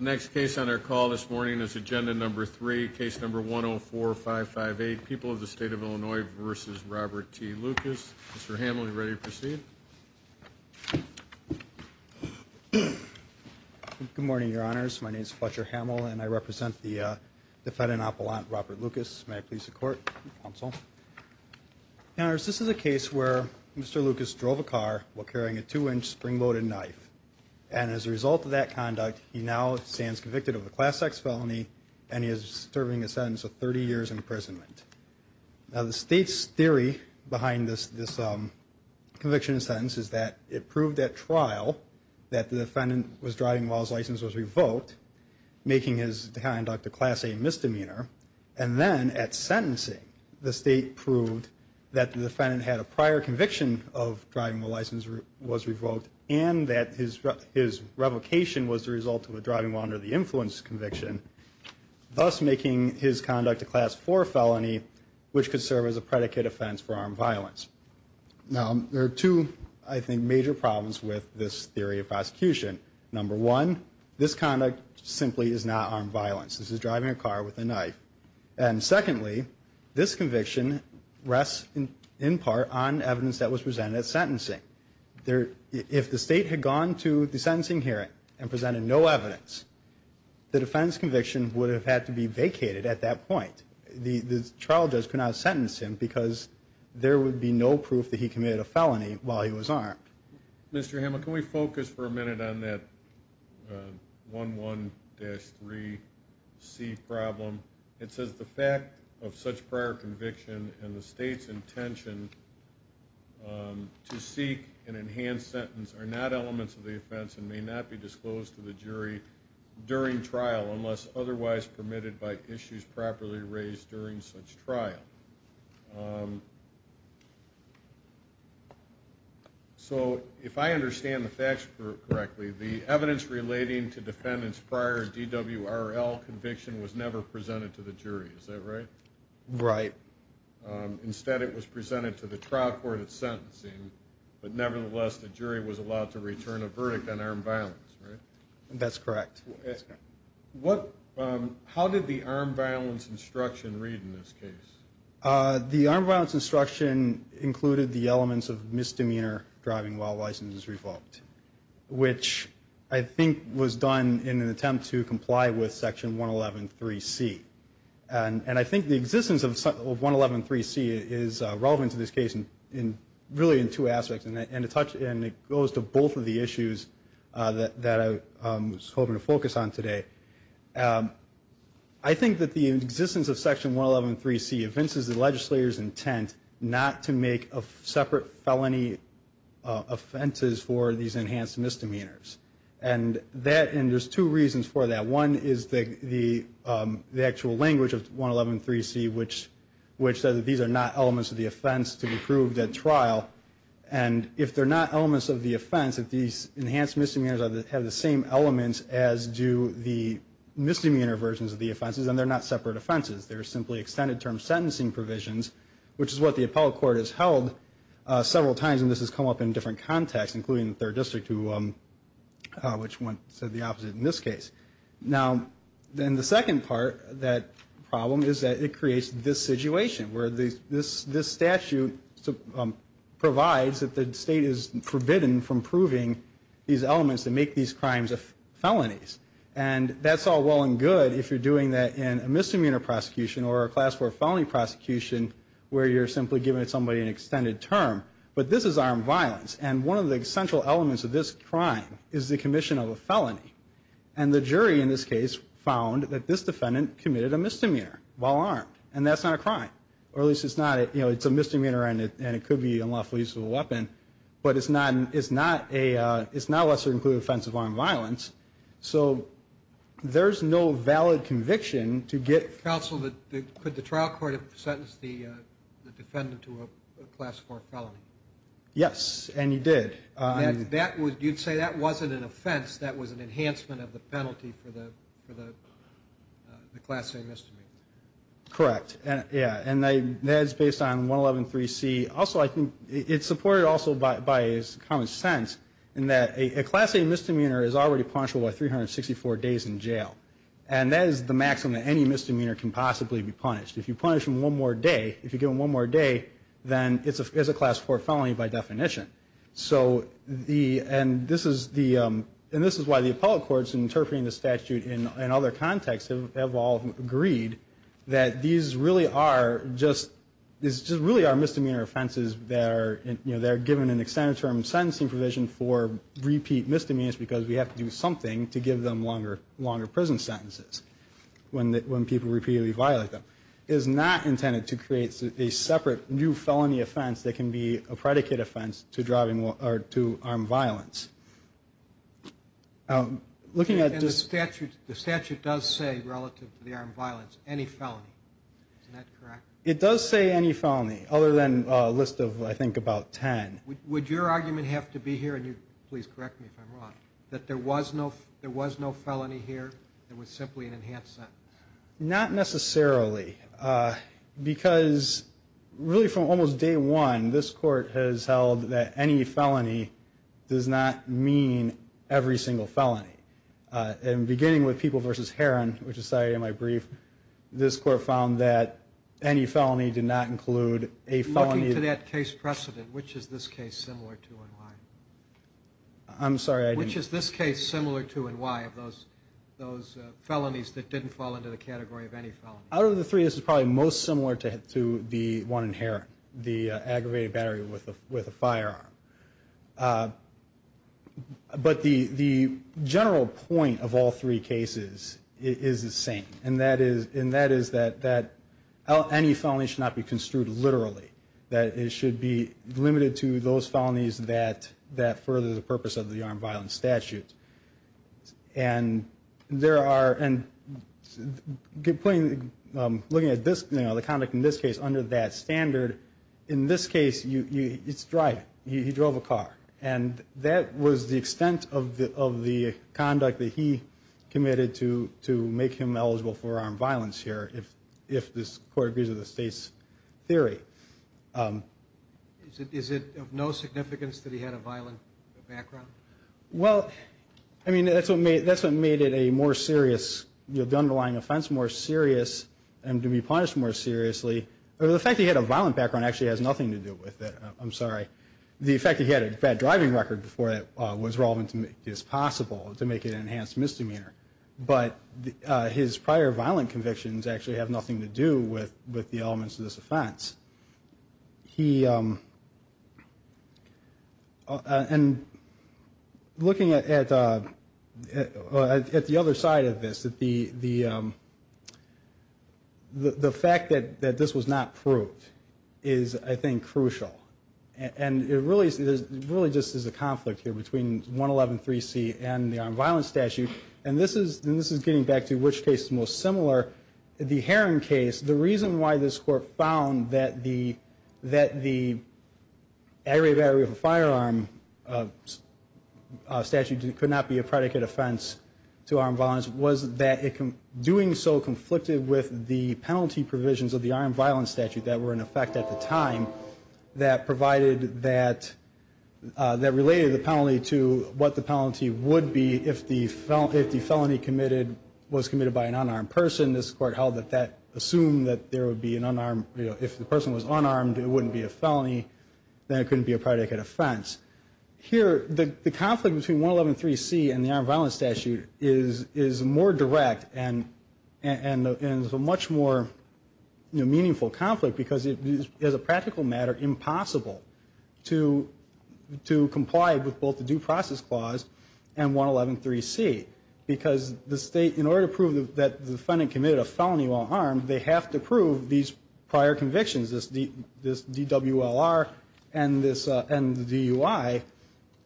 Next case on our call this morning is agenda number three, case number 104558, People of the State of Illinois v. Robert T. Lucas. Mr. Hamill, are you ready to proceed? Good morning, Your Honors. My name is Fletcher Hamill, and I represent the defendant, Appellant Robert Lucas. May I please support the counsel? Your Honors, this is a case where Mr. Lucas drove a car while carrying a two-inch spring-loaded knife, and as a result of that conduct, he now stands convicted of a class-X felony, and he is serving a sentence of 30 years imprisonment. Now, the State's theory behind this conviction and sentence is that it proved at trial that the defendant was driving while his license was revoked, making his conduct a Class A misdemeanor. And then at sentencing, the State proved that the defendant had a prior conviction of driving while his license was revoked, and that his revocation was the result of a driving while under the influence conviction, thus making his conduct a Class IV felony, which could serve as a predicate offense for armed violence. Now, there are two, I think, major problems with this theory of prosecution. Number one, this conduct simply is not armed violence. This is driving a car with a knife. And secondly, this conviction rests in part on evidence that was presented at sentencing. If the State had gone to the sentencing hearing and presented no evidence, the defendant's conviction would have had to be vacated at that point. The trial judge could not sentence him because there would be no proof that he committed a felony while he was armed. Mr. Hamel, can we focus for a minute on that 11-3C problem? It says, The fact of such prior conviction and the State's intention to seek an enhanced sentence are not elements of the offense and may not be disclosed to the jury during trial unless otherwise permitted by issues properly raised during such trial. So, if I understand the facts correctly, the evidence relating to defendant's prior DWRL conviction was never presented to the jury, is that right? Right. Instead, it was presented to the trial court at sentencing, but nevertheless, the jury was allowed to return a verdict on armed violence, right? That's correct. How did the armed violence instruction read in this case? The armed violence instruction included the elements of misdemeanor driving while license is revoked, which I think was done in an attempt to comply with Section 111-3C. And I think the existence of 111-3C is relevant to this case, really, in two aspects. And it goes to both of the issues that I was hoping to focus on today. I think that the existence of Section 111-3C evinces the legislator's intent not to make separate felony offenses for these enhanced misdemeanors. And there's two reasons for that. One is the actual language of 111-3C, which says that these are not elements of the offense to be proved at trial. And if they're not elements of the offense, if these enhanced misdemeanors have the same elements as do the misdemeanor versions of the offenses, then they're not separate offenses. They're simply extended-term sentencing provisions, which is what the appellate court has held several times, and this has come up in different contexts, including the 3rd District, which said the opposite in this case. Now, then the second part of that problem is that it creates this situation, where this statute provides that the state is forbidden from proving these elements that make these crimes felonies. And that's all well and good if you're doing that in a misdemeanor prosecution or a class 4 felony prosecution where you're simply giving somebody an extended term. But this is armed violence, and one of the essential elements of this crime is the commission of a felony. And the jury in this case found that this defendant committed a misdemeanor while armed, and that's not a crime. Or at least it's not a – you know, it's a misdemeanor and it could be unlawful use of a weapon, but it's not a – it's not a lesser-included offense of armed violence. So there's no valid conviction to get – Counsel, could the trial court have sentenced the defendant to a class 4 felony? Yes, and you did. You'd say that wasn't an offense. That was an enhancement of the penalty for the class A misdemeanor. Correct, yeah, and that's based on 111.3c. Also, I think it's supported also by common sense in that a class A misdemeanor is already punishable by 364 days in jail. And that is the maximum that any misdemeanor can possibly be punished. If you punish them one more day, if you give them one more day, then it's a class 4 felony by definition. So the – and this is the – and this is why the appellate courts, in interpreting the statute in other contexts, have all agreed that these really are just – these just really are misdemeanor offenses that are – you know, they're given an extended term sentencing provision for repeat misdemeanors because we have to do something to give them longer prison sentences when people repeatedly violate them. It is not intended to create a separate new felony offense that can be a predicate offense to driving – or to armed violence. Looking at this – And the statute does say, relative to the armed violence, any felony. Isn't that correct? It does say any felony, other than a list of, I think, about 10. Would your argument have to be here – and please correct me if I'm wrong – that there was no felony here? It was simply an enhanced sentence? Not necessarily, because really from almost day one, this court has held that any felony does not mean every single felony. And beginning with People v. Herron, which is cited in my brief, this court found that any felony did not include a felony – Looking to that case precedent, which is this case similar to and why? I'm sorry, I didn't – Which is this case similar to and why of those felonies that didn't fall into the category of any felony? Out of the three, this is probably most similar to the one in Herron, the aggravated battery with a firearm. But the general point of all three cases is the same, and that is that any felony should not be construed literally, that it should be limited to those felonies that further the purpose of the armed violence statute. And there are – looking at the conduct in this case under that standard, in this case, it's driving. He drove a car. And that was the extent of the conduct that he committed to make him eligible for armed violence here, if this court agrees with the state's theory. Is it of no significance that he had a violent background? Well, I mean, that's what made it a more serious – the underlying offense more serious and to be punished more seriously. The fact that he had a violent background actually has nothing to do with it. I'm sorry. The fact that he had a bad driving record before that was relevant to make this possible, to make it an enhanced misdemeanor. But his prior violent convictions actually have nothing to do with the elements of this offense. He – and looking at the other side of this, the fact that this was not proved is, I think, crucial. And it really just is a conflict here between 111.3c and the armed violence statute. And this is getting back to which case is most similar. The Heron case, the reason why this court found that the aggravated battery of a firearm statute could not be a predicate offense to armed violence was that it, doing so conflicted with the penalty provisions of the armed violence statute that were in effect at the time that provided that – that related the penalty to what the penalty would be if the felony committed – was committed by an unarmed person. This court held that that assumed that there would be an unarmed – if the person was unarmed, it wouldn't be a felony. Then it couldn't be a predicate offense. Here, the conflict between 111.3c and the armed violence statute is more direct and is a much more meaningful conflict because it is, as a practical matter, impossible to comply with both the due process clause and 111.3c. Because the state, in order to prove that the defendant committed a felony while armed, they have to prove these prior convictions, this DWLR and the DUI.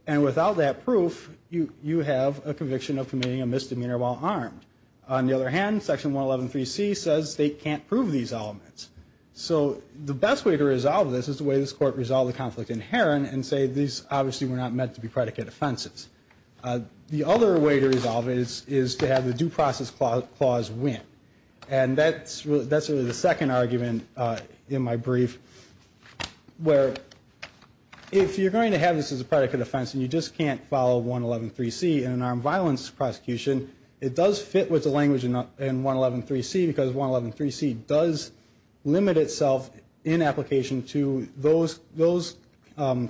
And without that proof, you have a conviction of committing a misdemeanor while armed. On the other hand, Section 111.3c says they can't prove these elements. So the best way to resolve this is the way this court resolved the conflict in Heron and say these obviously were not meant to be predicate offenses. The other way to resolve it is to have the due process clause win. And that's really the second argument in my brief where if you're going to have this as a predicate offense and you just can't follow 111.3c in an armed violence prosecution, it does fit with the language in 111.3c because 111.3c does limit itself in application to those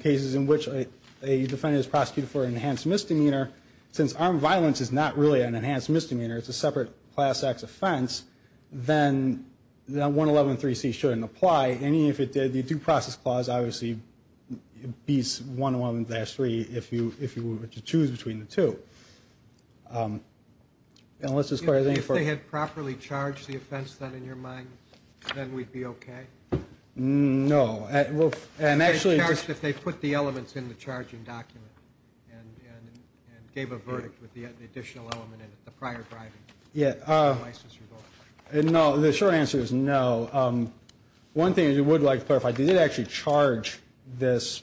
cases in which a defendant is prosecuted for an enhanced misdemeanor. Since armed violence is not really an enhanced misdemeanor, it's a separate class X offense, then 111.3c shouldn't apply. And even if it did, the due process clause obviously beats 111.3 if you were to choose between the two. And let's just clarify. If they had properly charged the offense then in your mind, then we'd be okay? No. And actually if they put the elements in the charging document and gave a verdict with the additional element in it, the prior driving license revoked. No, the short answer is no. One thing I would like to clarify, they did actually charge this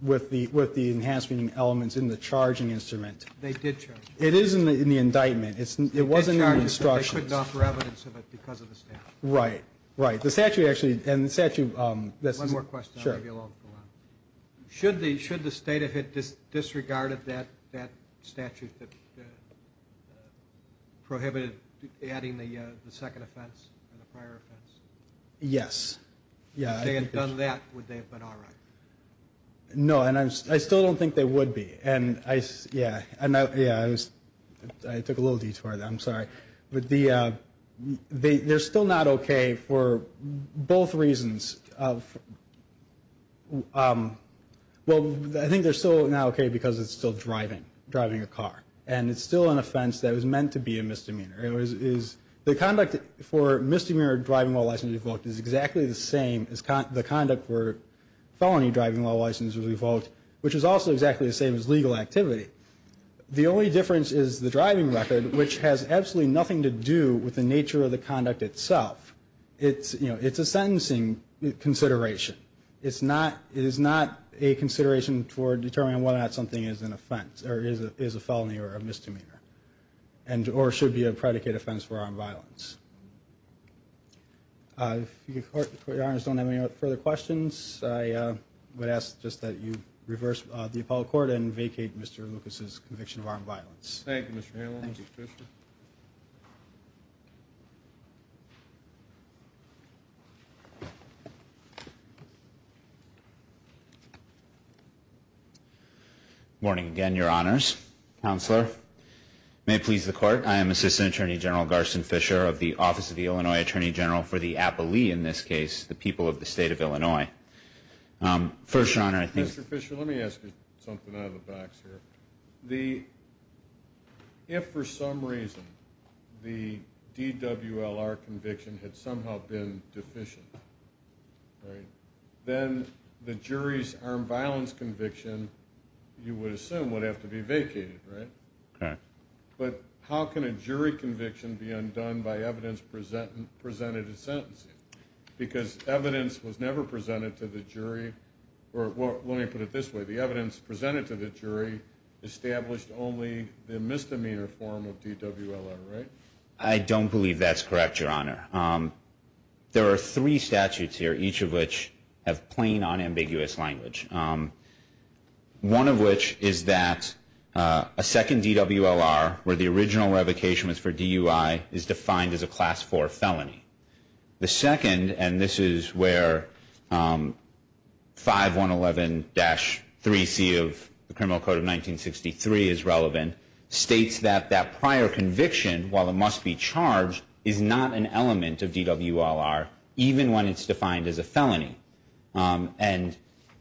with the enhanced misdemeanor elements in the charging instrument. They did charge it. It is in the indictment. It wasn't in the instructions. They couldn't offer evidence of it because of the statute. Right, right. The statute actually, and the statute. One more question. Sure. Should the state have disregarded that statute that prohibited adding the second offense or the prior offense? Yes. If they had done that, would they have been all right? No, and I still don't think they would be. And, yeah, I took a little detour there. I'm sorry. But they're still not okay for both reasons. Well, I think they're still not okay because it's still driving, driving a car. And it's still an offense that was meant to be a misdemeanor. The conduct for misdemeanor driving while license revoked is exactly the same as the conduct for felony driving while license was revoked, which is also exactly the same as legal activity. The only difference is the driving record, which has absolutely nothing to do with the nature of the conduct itself. It's a sentencing consideration. It is not a consideration for determining whether or not something is an offense or is a felony or a misdemeanor or should be a predicate offense for armed violence. If the court, your Honors, don't have any further questions, I would ask just that you reverse the appellate court and vacate Mr. Lucas' conviction of armed violence. Thank you, Mr. Hanlon. Good morning again, your Honors. Counselor, may it please the Court, I am Assistant Attorney General Garson Fisher of the Office of the Illinois Attorney General for the appellee in this case, the people of the state of Illinois. First, your Honor, I think... Mr. Fisher, let me ask you something out of the box here. If for some reason the DWLR conviction had somehow been deficient, then the jury's armed violence conviction, you would assume, would have to be vacated, right? Correct. But how can a jury conviction be undone by evidence presented in sentencing? Because evidence was never presented to the jury, or let me put it this way, the evidence presented to the jury established only the misdemeanor form of DWLR, right? I don't believe that's correct, your Honor. There are three statutes here, each of which have plain, unambiguous language. One of which is that a second DWLR, where the original revocation was for DUI, is defined as a Class IV felony. The second, and this is where 5111-3C of the Criminal Code of 1963 is relevant, states that that prior conviction, while it must be charged, is not an element of DWLR, even when it's defined as a felony. And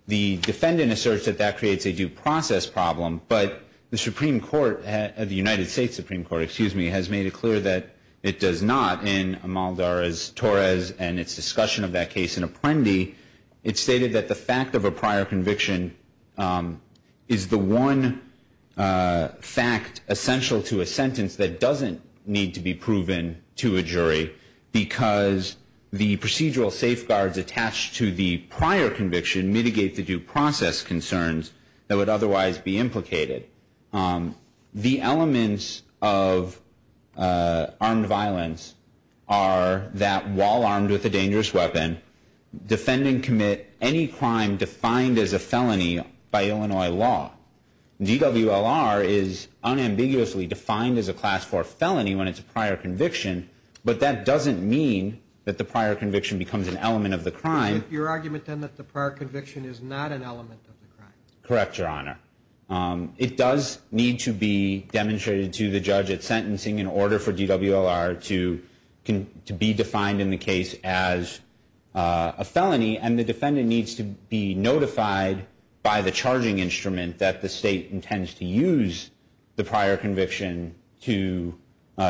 the defendant asserts that that creates a due process problem, but the Supreme Court, the United States Supreme Court, excuse me, has made it clear that it does not in Amaldarez-Torres and its discussion of that case in Apprendi. It stated that the fact of a prior conviction is the one fact essential to a sentence that doesn't need to be proven to a jury because the procedural safeguards attached to the prior conviction mitigate the due process concerns that would otherwise be implicated. The elements of armed violence are that while armed with a dangerous weapon, defendant commit any crime defined as a felony by Illinois law. DWLR is unambiguously defined as a Class IV felony when it's a prior conviction, but that doesn't mean that the prior conviction becomes an element of the crime. Your argument then that the prior conviction is not an element of the crime? Correct, Your Honor. It does need to be demonstrated to the judge at sentencing in order for DWLR to be defined in the case as a felony, and the defendant needs to be notified by the charging instrument that the state intends to use the prior conviction to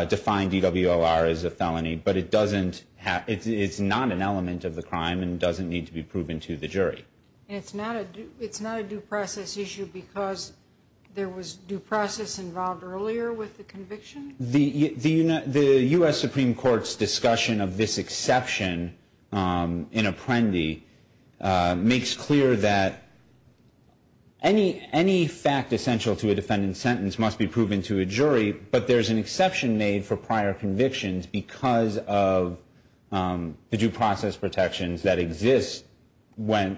define DWLR as a felony, but it's not an element of the crime and doesn't need to be proven to the jury. It's not a due process issue because there was due process involved earlier with the conviction? The U.S. Supreme Court's discussion of this exception in Apprendi makes clear that any fact essential to a defendant's sentence must be proven to a jury, but there's an exception made for prior convictions because of the due process protections that exist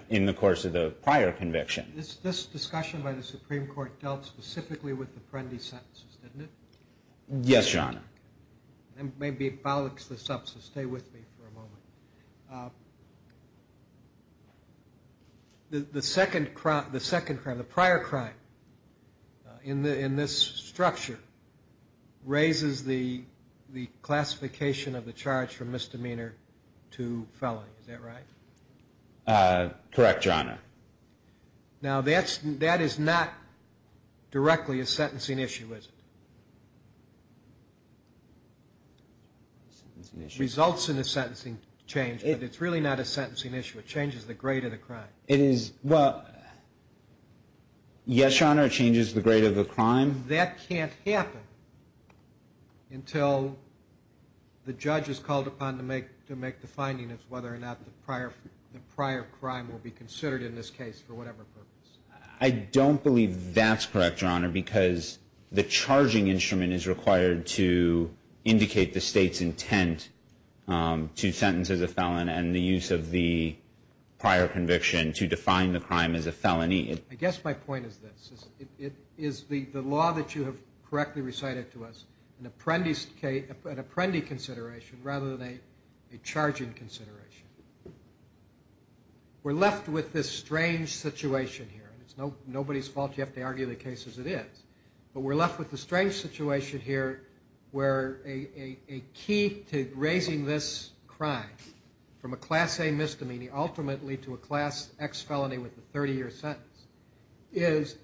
in the course of the prior conviction. This discussion by the Supreme Court dealt specifically with Apprendi sentences, didn't it? Yes, Your Honor. Maybe it bollocks this up, so stay with me for a moment. The second crime, the prior crime in this structure, raises the classification of the charge for misdemeanor to felony. Is that right? Correct, Your Honor. Now that is not directly a sentencing issue, is it? It results in a sentencing change, but it's really not a sentencing issue. It changes the grade of the crime. Yes, Your Honor, it changes the grade of the crime. That can't happen until the judge is called upon to make the finding of whether or not the prior crime will be considered in this case for whatever purpose. I don't believe that's correct, Your Honor, because the charging instrument is required to indicate the state's intent to sentence as a felon and the use of the prior conviction to define the crime as a felony. I guess my point is this. Is the law that you have correctly recited to us an Apprendi consideration rather than a charging consideration? We're left with this strange situation here. It's nobody's fault. You have to argue the case as it is. But we're left with the strange situation here where a key to raising this crime from a Class A misdemeanor ultimately to a Class X felony with a 30-year sentence is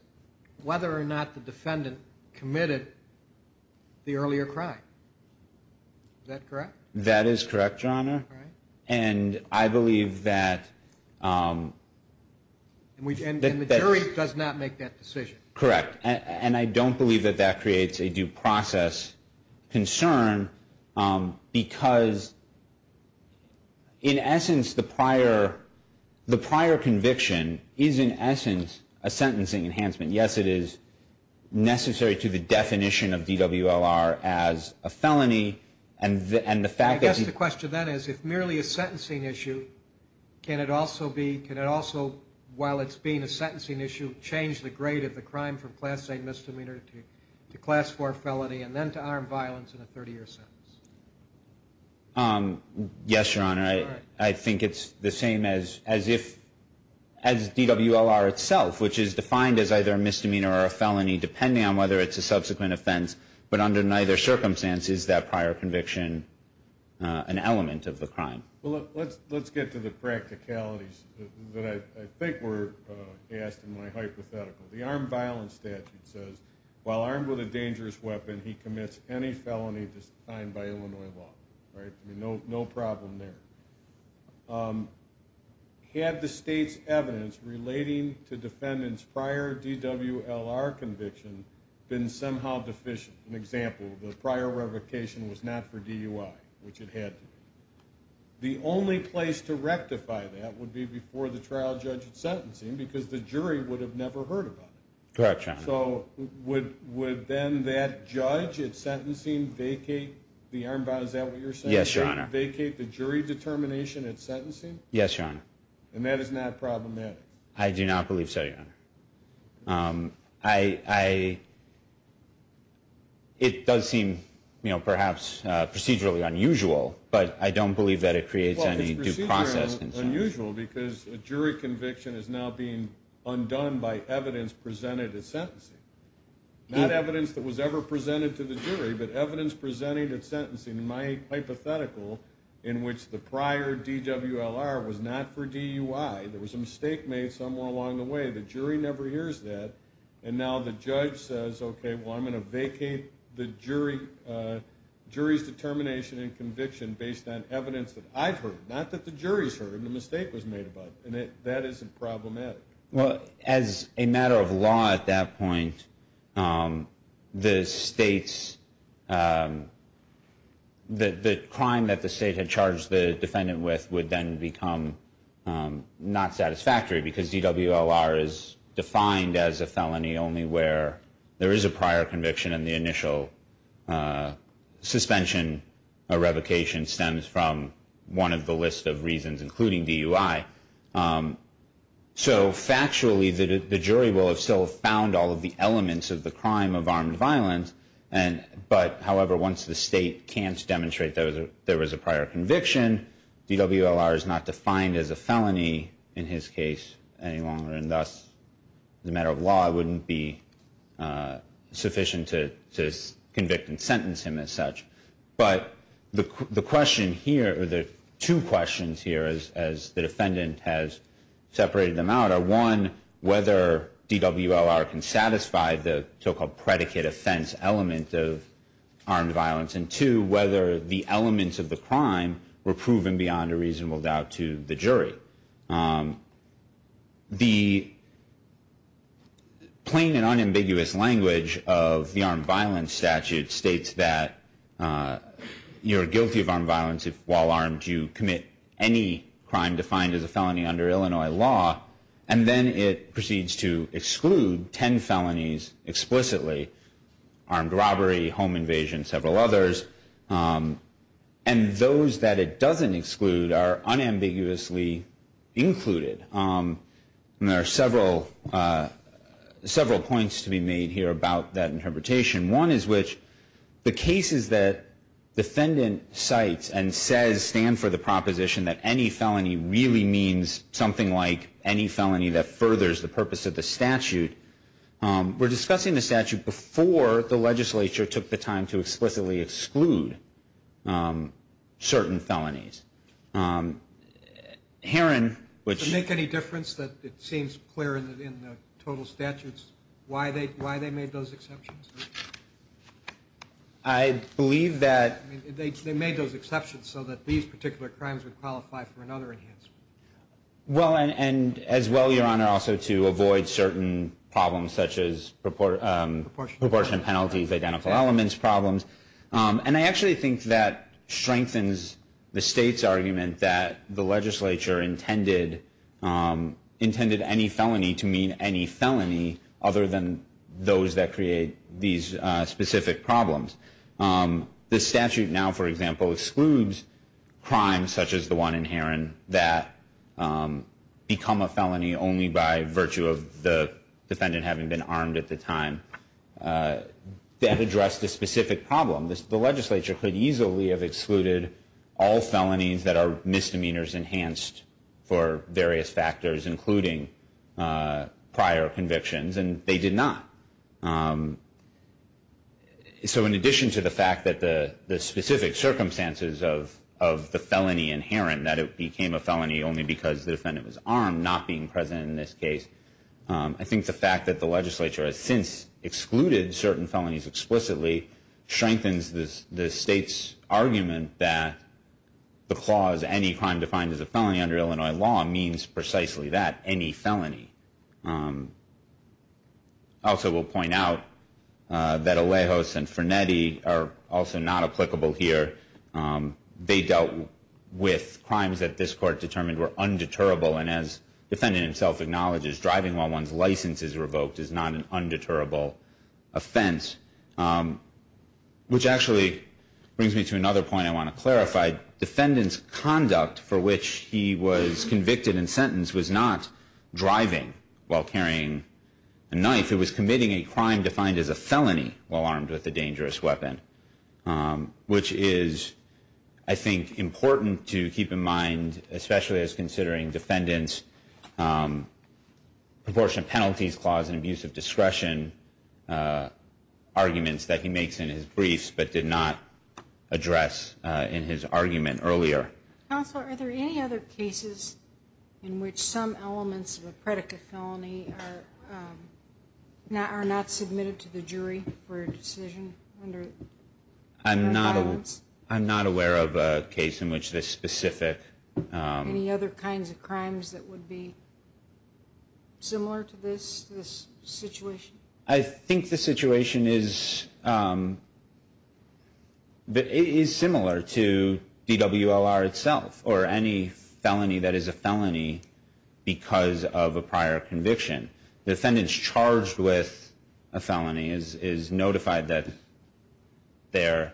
whether or not the defendant committed the earlier crime. Is that correct? That is correct, Your Honor. And I believe that the jury does not make that decision. Correct. And I don't believe that that creates a due process concern because, in essence, the prior conviction is, in essence, a sentencing enhancement. Yes, it is necessary to the definition of DWLR as a felony. I guess the question then is, if merely a sentencing issue, can it also, while it's being a sentencing issue, change the grade of the crime from Class A misdemeanor to Class IV felony and then to armed violence and a 30-year sentence? Yes, Your Honor. I think it's the same as DWLR itself, which is defined as either a misdemeanor or a felony, depending on whether it's a subsequent offense. But under neither circumstance is that prior conviction an element of the crime. Well, let's get to the practicalities that I think were asked in my hypothetical. The armed violence statute says, while armed with a dangerous weapon, he commits any felony defined by Illinois law. Right? No problem there. Had the state's evidence relating to defendants' prior DWLR conviction been somehow deficient? An example, the prior revocation was not for DUI, which it had to be. The only place to rectify that would be before the trial judge at sentencing because the jury would have never heard about it. Correct, Your Honor. So would then that judge at sentencing vacate the armed violence statute? Yes, Your Honor. Vacate the jury determination at sentencing? Yes, Your Honor. And that is not problematic? I do not believe so, Your Honor. It does seem, you know, perhaps procedurally unusual, but I don't believe that it creates any due process concern. Well, it's procedurally unusual because a jury conviction is now being undone by evidence presented at sentencing. Not evidence that was ever presented to the jury, but evidence presented at sentencing. In my hypothetical, in which the prior DWLR was not for DUI, there was a mistake made somewhere along the way. The jury never hears that. And now the judge says, okay, well, I'm going to vacate the jury's determination and conviction based on evidence that I've heard. Not that the jury's heard, the mistake was made about it. And that isn't problematic. Well, as a matter of law at that point, the crime that the state had charged the defendant with would then become not satisfactory because DWLR is defined as a felony only where there is a prior conviction, and the initial suspension or revocation stems from one of the list of reasons, including DUI. So factually, the jury will have still found all of the elements of the crime of armed violence, but however, once the state can't demonstrate that there was a prior conviction, DWLR is not defined as a felony in his case any longer. And thus, as a matter of law, it wouldn't be sufficient to convict and sentence him as such. But the question here, or the two questions here, as the defendant has separated them out, are one, whether DWLR can satisfy the so-called predicate offense element of armed violence, and two, whether the elements of the crime were proven beyond a reasonable doubt to the jury. The plain and unambiguous language of the armed violence statute states that you're guilty of armed violence if, while armed, you commit any crime defined as a felony under Illinois law, and then it proceeds to exclude 10 felonies explicitly, armed robbery, home invasion, several others. And those that it doesn't exclude are unambiguously included. And there are several points to be made here about that interpretation. One is which the cases that defendant cites and says stand for the proposition that any felony really means something like any felony that furthers the purpose of the statute, we're discussing the statute before the legislature took the time to explicitly exclude certain felonies. Herron, which — Does it make any difference that it seems clear in the total statutes why they made those exceptions? I believe that — They made those exceptions so that these particular crimes would qualify for another enhancement. Well, and as well, Your Honor, also to avoid certain problems such as proportionate penalties, identical elements problems. And I actually think that strengthens the state's argument that the legislature intended any felony to mean any felony other than those that create these specific problems. The statute now, for example, excludes crimes such as the one in Herron that become a felony only by virtue of the defendant having been armed at the time. That addressed a specific problem. The legislature could easily have excluded all felonies that are misdemeanors enhanced for various factors, including prior convictions, and they did not. So in addition to the fact that the specific circumstances of the felony in Herron, that it became a felony only because the defendant was armed, not being present in this case, I think the fact that the legislature has since excluded certain felonies explicitly strengthens the state's argument that the clause, any crime defined as a felony under Illinois law, means precisely that, any felony. I also will point out that Alejos and Fernetti are also not applicable here. They dealt with crimes that this court determined were undeterrable, and as the defendant himself acknowledges, driving while one's license is revoked is not an undeterrable offense, which actually brings me to another point I want to clarify. Defendant's conduct for which he was convicted and sentenced was not driving while carrying a knife. It was committing a crime defined as a felony while armed with a dangerous weapon, which is, I think, important to keep in mind, especially as considering defendant's proportionate penalties clause and abuse of discretion arguments that he makes in his briefs, but did not address in his argument earlier. Counsel, are there any other cases in which some elements of a predicate felony are not submitted to the jury for a decision under that violence? I'm not aware of a case in which this specific... Similar to this situation? I think the situation is similar to DWLR itself, or any felony that is a felony because of a prior conviction. The defendant's charged with a felony is notified that they're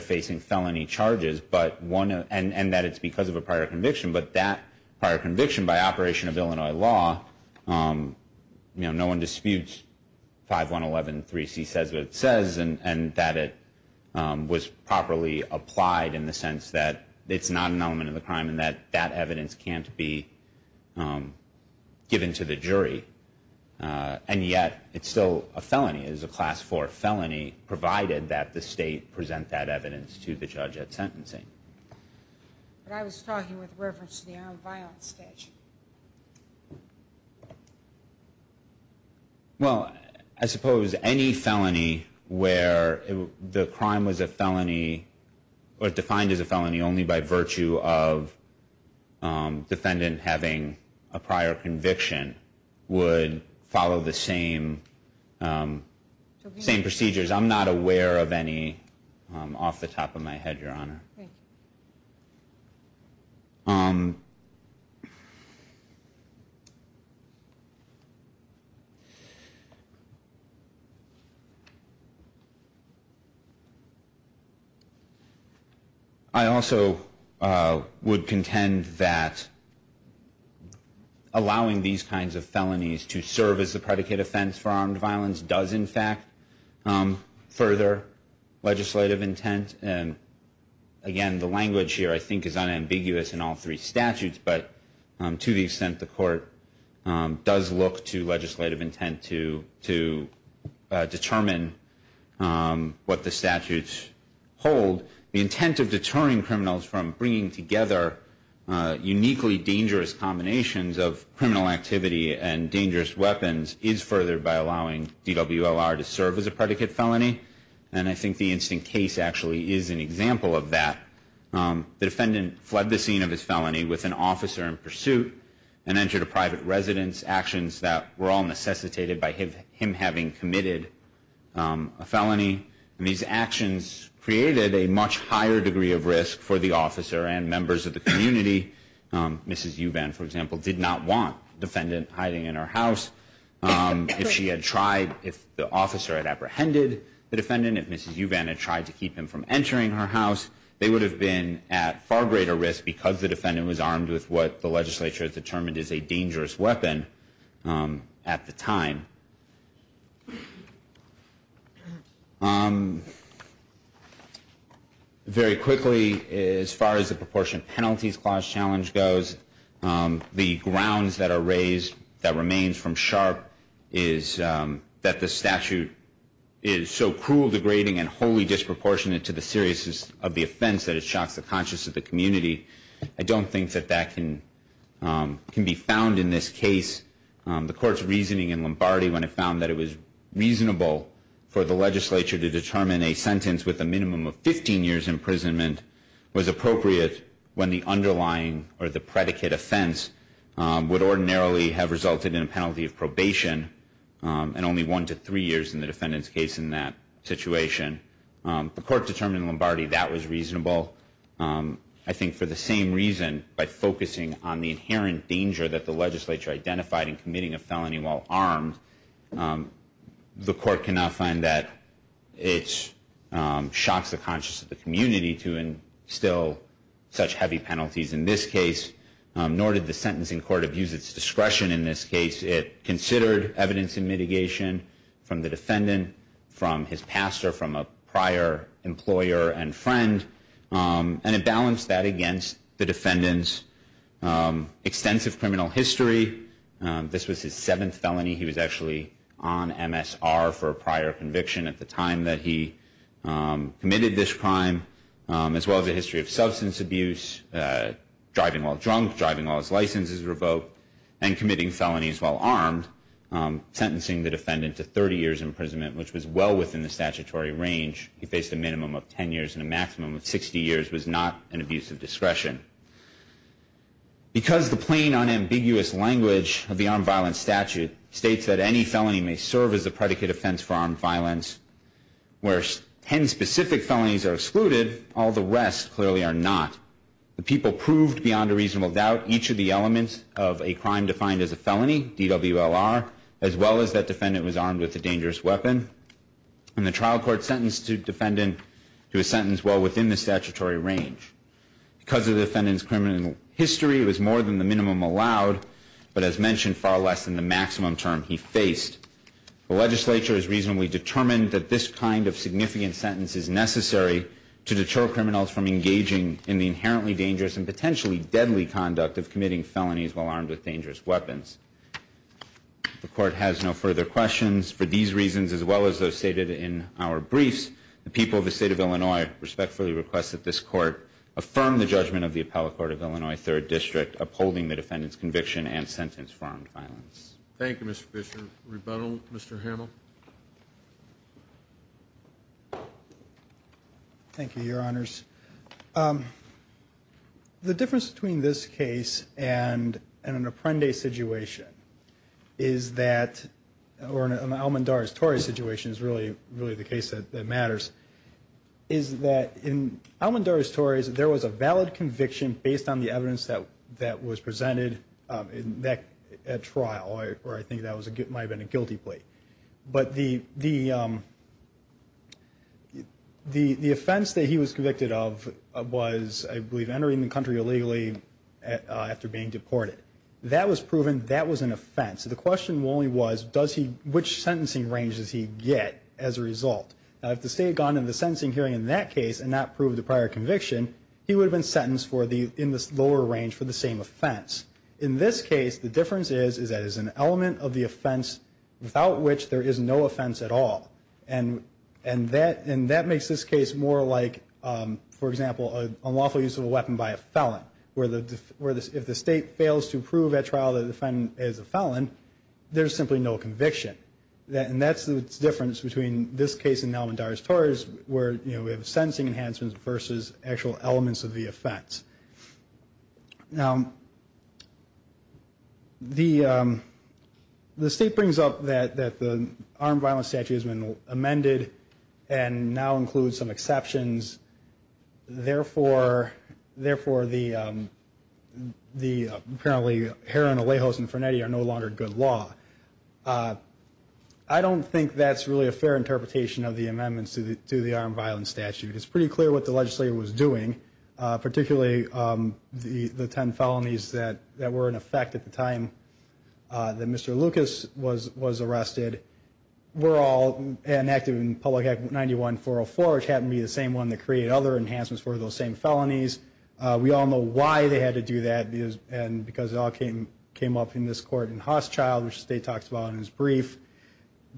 facing felony charges, and that it's because of a prior conviction, but that prior conviction by operation of Illinois law, no one disputes 5113C says what it says, and that it was properly applied in the sense that it's not an element of the crime and that that evidence can't be given to the jury, and yet it's still a felony. It is a class 4 felony provided that the state present that evidence to the judge at sentencing. But I was talking with reference to the armed violence statute. Well, I suppose any felony where the crime was a felony or defined as a felony only by virtue of defendant having a prior conviction would follow the same procedures. I'm not aware of any off the top of my head, Your Honor. I also would contend that allowing these kinds of felonies to serve as a predicate offense for armed violence does in fact further legislative intent. And again, the language here I think is unambiguous in all three statutes, but to the extent the court does look to legislative intent to determine what the statutes hold, the intent of deterring criminals from bringing together uniquely dangerous combinations of criminal activity and dangerous weapons is furthered by allowing DWLR to serve as a predicate felony. And I think the instant case actually is an example of that. The defendant fled the scene of his felony with an officer in pursuit and entered a private residence, actions that were all necessitated by him having committed a felony. And these actions created a much higher degree of risk for the officer and members of the community. Mrs. Uvan, for example, did not want the defendant hiding in her house. If she had tried, if the officer had apprehended the defendant, if Mrs. Uvan had tried to keep him from entering her house, they would have been at far greater risk because the defendant was armed with what the legislature has determined is a dangerous weapon at the time. Very quickly, as far as the proportionate penalties clause challenge goes, the grounds that are raised that remains from Sharp is that the statute is so cruel, degrading, and wholly disproportionate to the seriousness of the offense that it shocks the conscience of the community. I don't think that that can be found in this case. The court's reasoning in Lombardi when it found that it was reasonable for the legislature to determine a sentence with a minimum of 15 years' imprisonment was appropriate when the underlying or the predicate offense would ordinarily have resulted in a penalty of probation and only one to three years in the defendant's case in that situation. The court determined in Lombardi that was reasonable, I think for the same reason, by focusing on the inherent danger that the legislature identified in committing a felony while armed. The court cannot find that it shocks the conscience of the community to instill such heavy penalties in this case, nor did the sentencing court abuse its discretion in this case. It considered evidence in mitigation from the defendant, from his pastor, from a prior employer and friend, and it balanced that against the defendant's extensive criminal history. This was his seventh felony. He was actually on MSR for a prior conviction at the time that he committed this crime, as well as a history of substance abuse, driving while drunk, driving while his license is revoked, and committing felonies while armed, sentencing the defendant to 30 years' imprisonment, which was well within the statutory range. He faced a minimum of 10 years and a maximum of 60 years was not an abuse of discretion. Because the plain, unambiguous language of the armed violence statute states that any felony may serve as a predicate offense for armed violence, where 10 specific felonies are excluded, all the rest clearly are not. The people proved beyond a reasonable doubt each of the elements of a crime defined as a felony, DWLR, as well as that defendant was armed with a dangerous weapon. And the trial court sentenced the defendant to a sentence well within the statutory range. Because of the defendant's criminal history, it was more than the minimum allowed, but as mentioned, far less than the maximum term he faced. The legislature has reasonably determined that this kind of significant sentence is necessary to deter criminals from engaging in the inherently dangerous and potentially deadly conduct of committing felonies while armed with dangerous weapons. The court has no further questions. For these reasons, as well as those stated in our briefs, the people of the State of Illinois respectfully request that this court affirm the judgment of the Appellate Court of Illinois, 3rd District, upholding the defendant's conviction and sentence for armed violence. Thank you, Mr. Fisher. Rebuttal, Mr. Hamill. Thank you, Your Honors. The difference between this case and an Apprende situation is that, or an Almendares-Torres situation is really the case that matters, is that in Almendares-Torres, there was a valid conviction based on the evidence that was presented at trial, or I think that might have been a guilty plea. But the offense that he was convicted of was, I believe, entering the country illegally after being deported. That was proven that was an offense. The question only was, does he, which sentencing range does he get as a result? Now, if the State had gone to the sentencing hearing in that case and not proved the prior conviction, he would have been sentenced for the, in this lower range, for the same offense. In this case, the difference is that it's an element of the offense without which there is no offense at all. And that makes this case more like, for example, an unlawful use of a weapon by a felon, where if the State fails to prove at trial that the defendant is a felon, there's simply no conviction. And that's the difference between this case and Almendares-Torres, where we have sentencing enhancements versus actual elements of the offense. Now, the State brings up that the armed violence statute has been amended and now includes some exceptions. Therefore, the apparently Herron, Alejos, and Frenetti are no longer good law. I don't think that's really a fair interpretation of the amendments to the armed violence statute. It's pretty clear what the legislature was doing, particularly the ten felonies that were in effect at the time that Mr. Lucas was arrested, were all enacted in Public Act 91-404, which happened to be the same one that created other enhancements for those same felonies. We all know why they had to do that, because it all came up in this court in Hochschild, which the State talks about in his brief.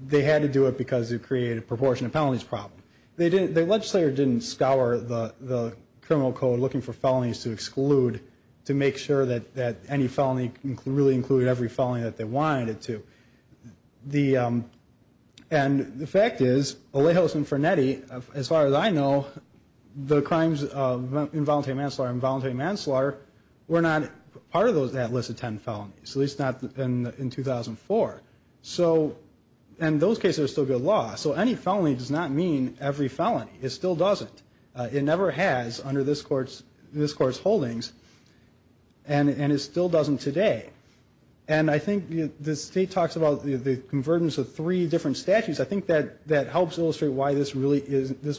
They had to do it because it created a proportionate penalties problem. The legislature didn't scour the criminal code looking for felonies to exclude to make sure that any felony really included every felony that they wanted it to. And the fact is, Alejos and Frenetti, as far as I know, the crimes of involuntary manslaughter and involuntary manslaughter were not part of that list of ten felonies, at least not in 2004. And those cases are still good law. So any felony does not mean every felony. It still doesn't. It never has under this Court's holdings, and it still doesn't today. And I think the State talks about the convergence of three different statutes. I think that helps illustrate why this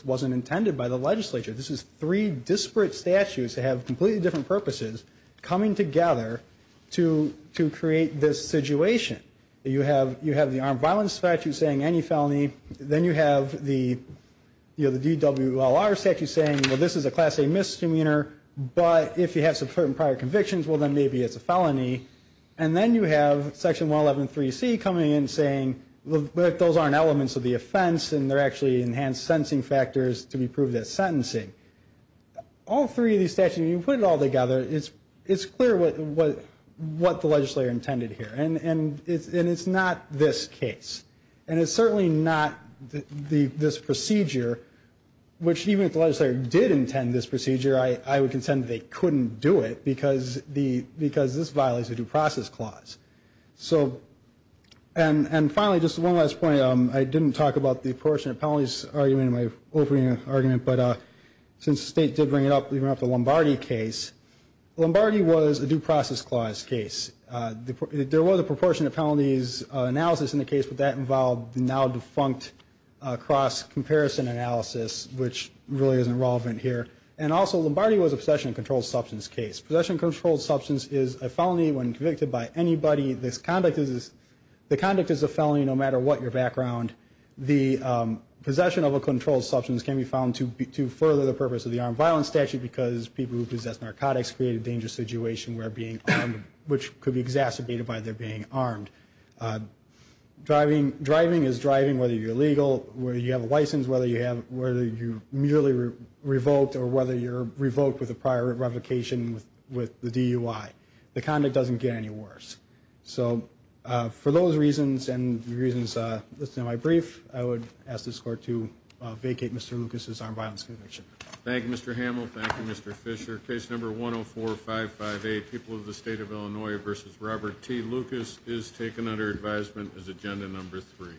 wasn't intended by the legislature. This is three disparate statutes that have completely different purposes coming together to create this situation. You have the Armed Violence Statute saying any felony. Then you have the DWLR Statute saying, well, this is a Class A misdemeanor, but if you have subverting prior convictions, well, then maybe it's a felony. And then you have Section 111.3.C coming in saying, look, those aren't elements of the offense, and they're actually enhanced sentencing factors to be proved as sentencing. All three of these statutes, when you put it all together, it's clear what the legislature intended here. And it's not this case. And it's certainly not this procedure, which even if the legislature did intend this procedure, I would contend they couldn't do it because this violates the Due Process Clause. And finally, just one last point. I didn't talk about the apportionment of penalties argument in my opening argument, but since the State did bring it up, we brought up the Lombardi case. Lombardi was a Due Process Clause case. There was a proportionate penalties analysis in the case, but that involved now defunct cross-comparison analysis, which really isn't relevant here. And also, Lombardi was a possession-controlled substance case. Possession-controlled substance is a felony when convicted by anybody. The conduct is a felony no matter what your background. The possession of a controlled substance can be found to further the purpose of the armed violence statute because people who possess narcotics create a dangerous situation where being armed, which could be exacerbated by their being armed. Driving is driving whether you're legal, whether you have a license, whether you're merely revoked, or whether you're revoked with a prior revocation with the DUI. The conduct doesn't get any worse. So for those reasons and the reasons listed in my brief, I would ask this Court to vacate Mr. Lucas' armed violence conviction. Thank you, Mr. Hamill. Thank you, Mr. Fisher. Case number 104558, People of the State of Illinois v. Robert T. Lucas, is taken under advisement as agenda number three.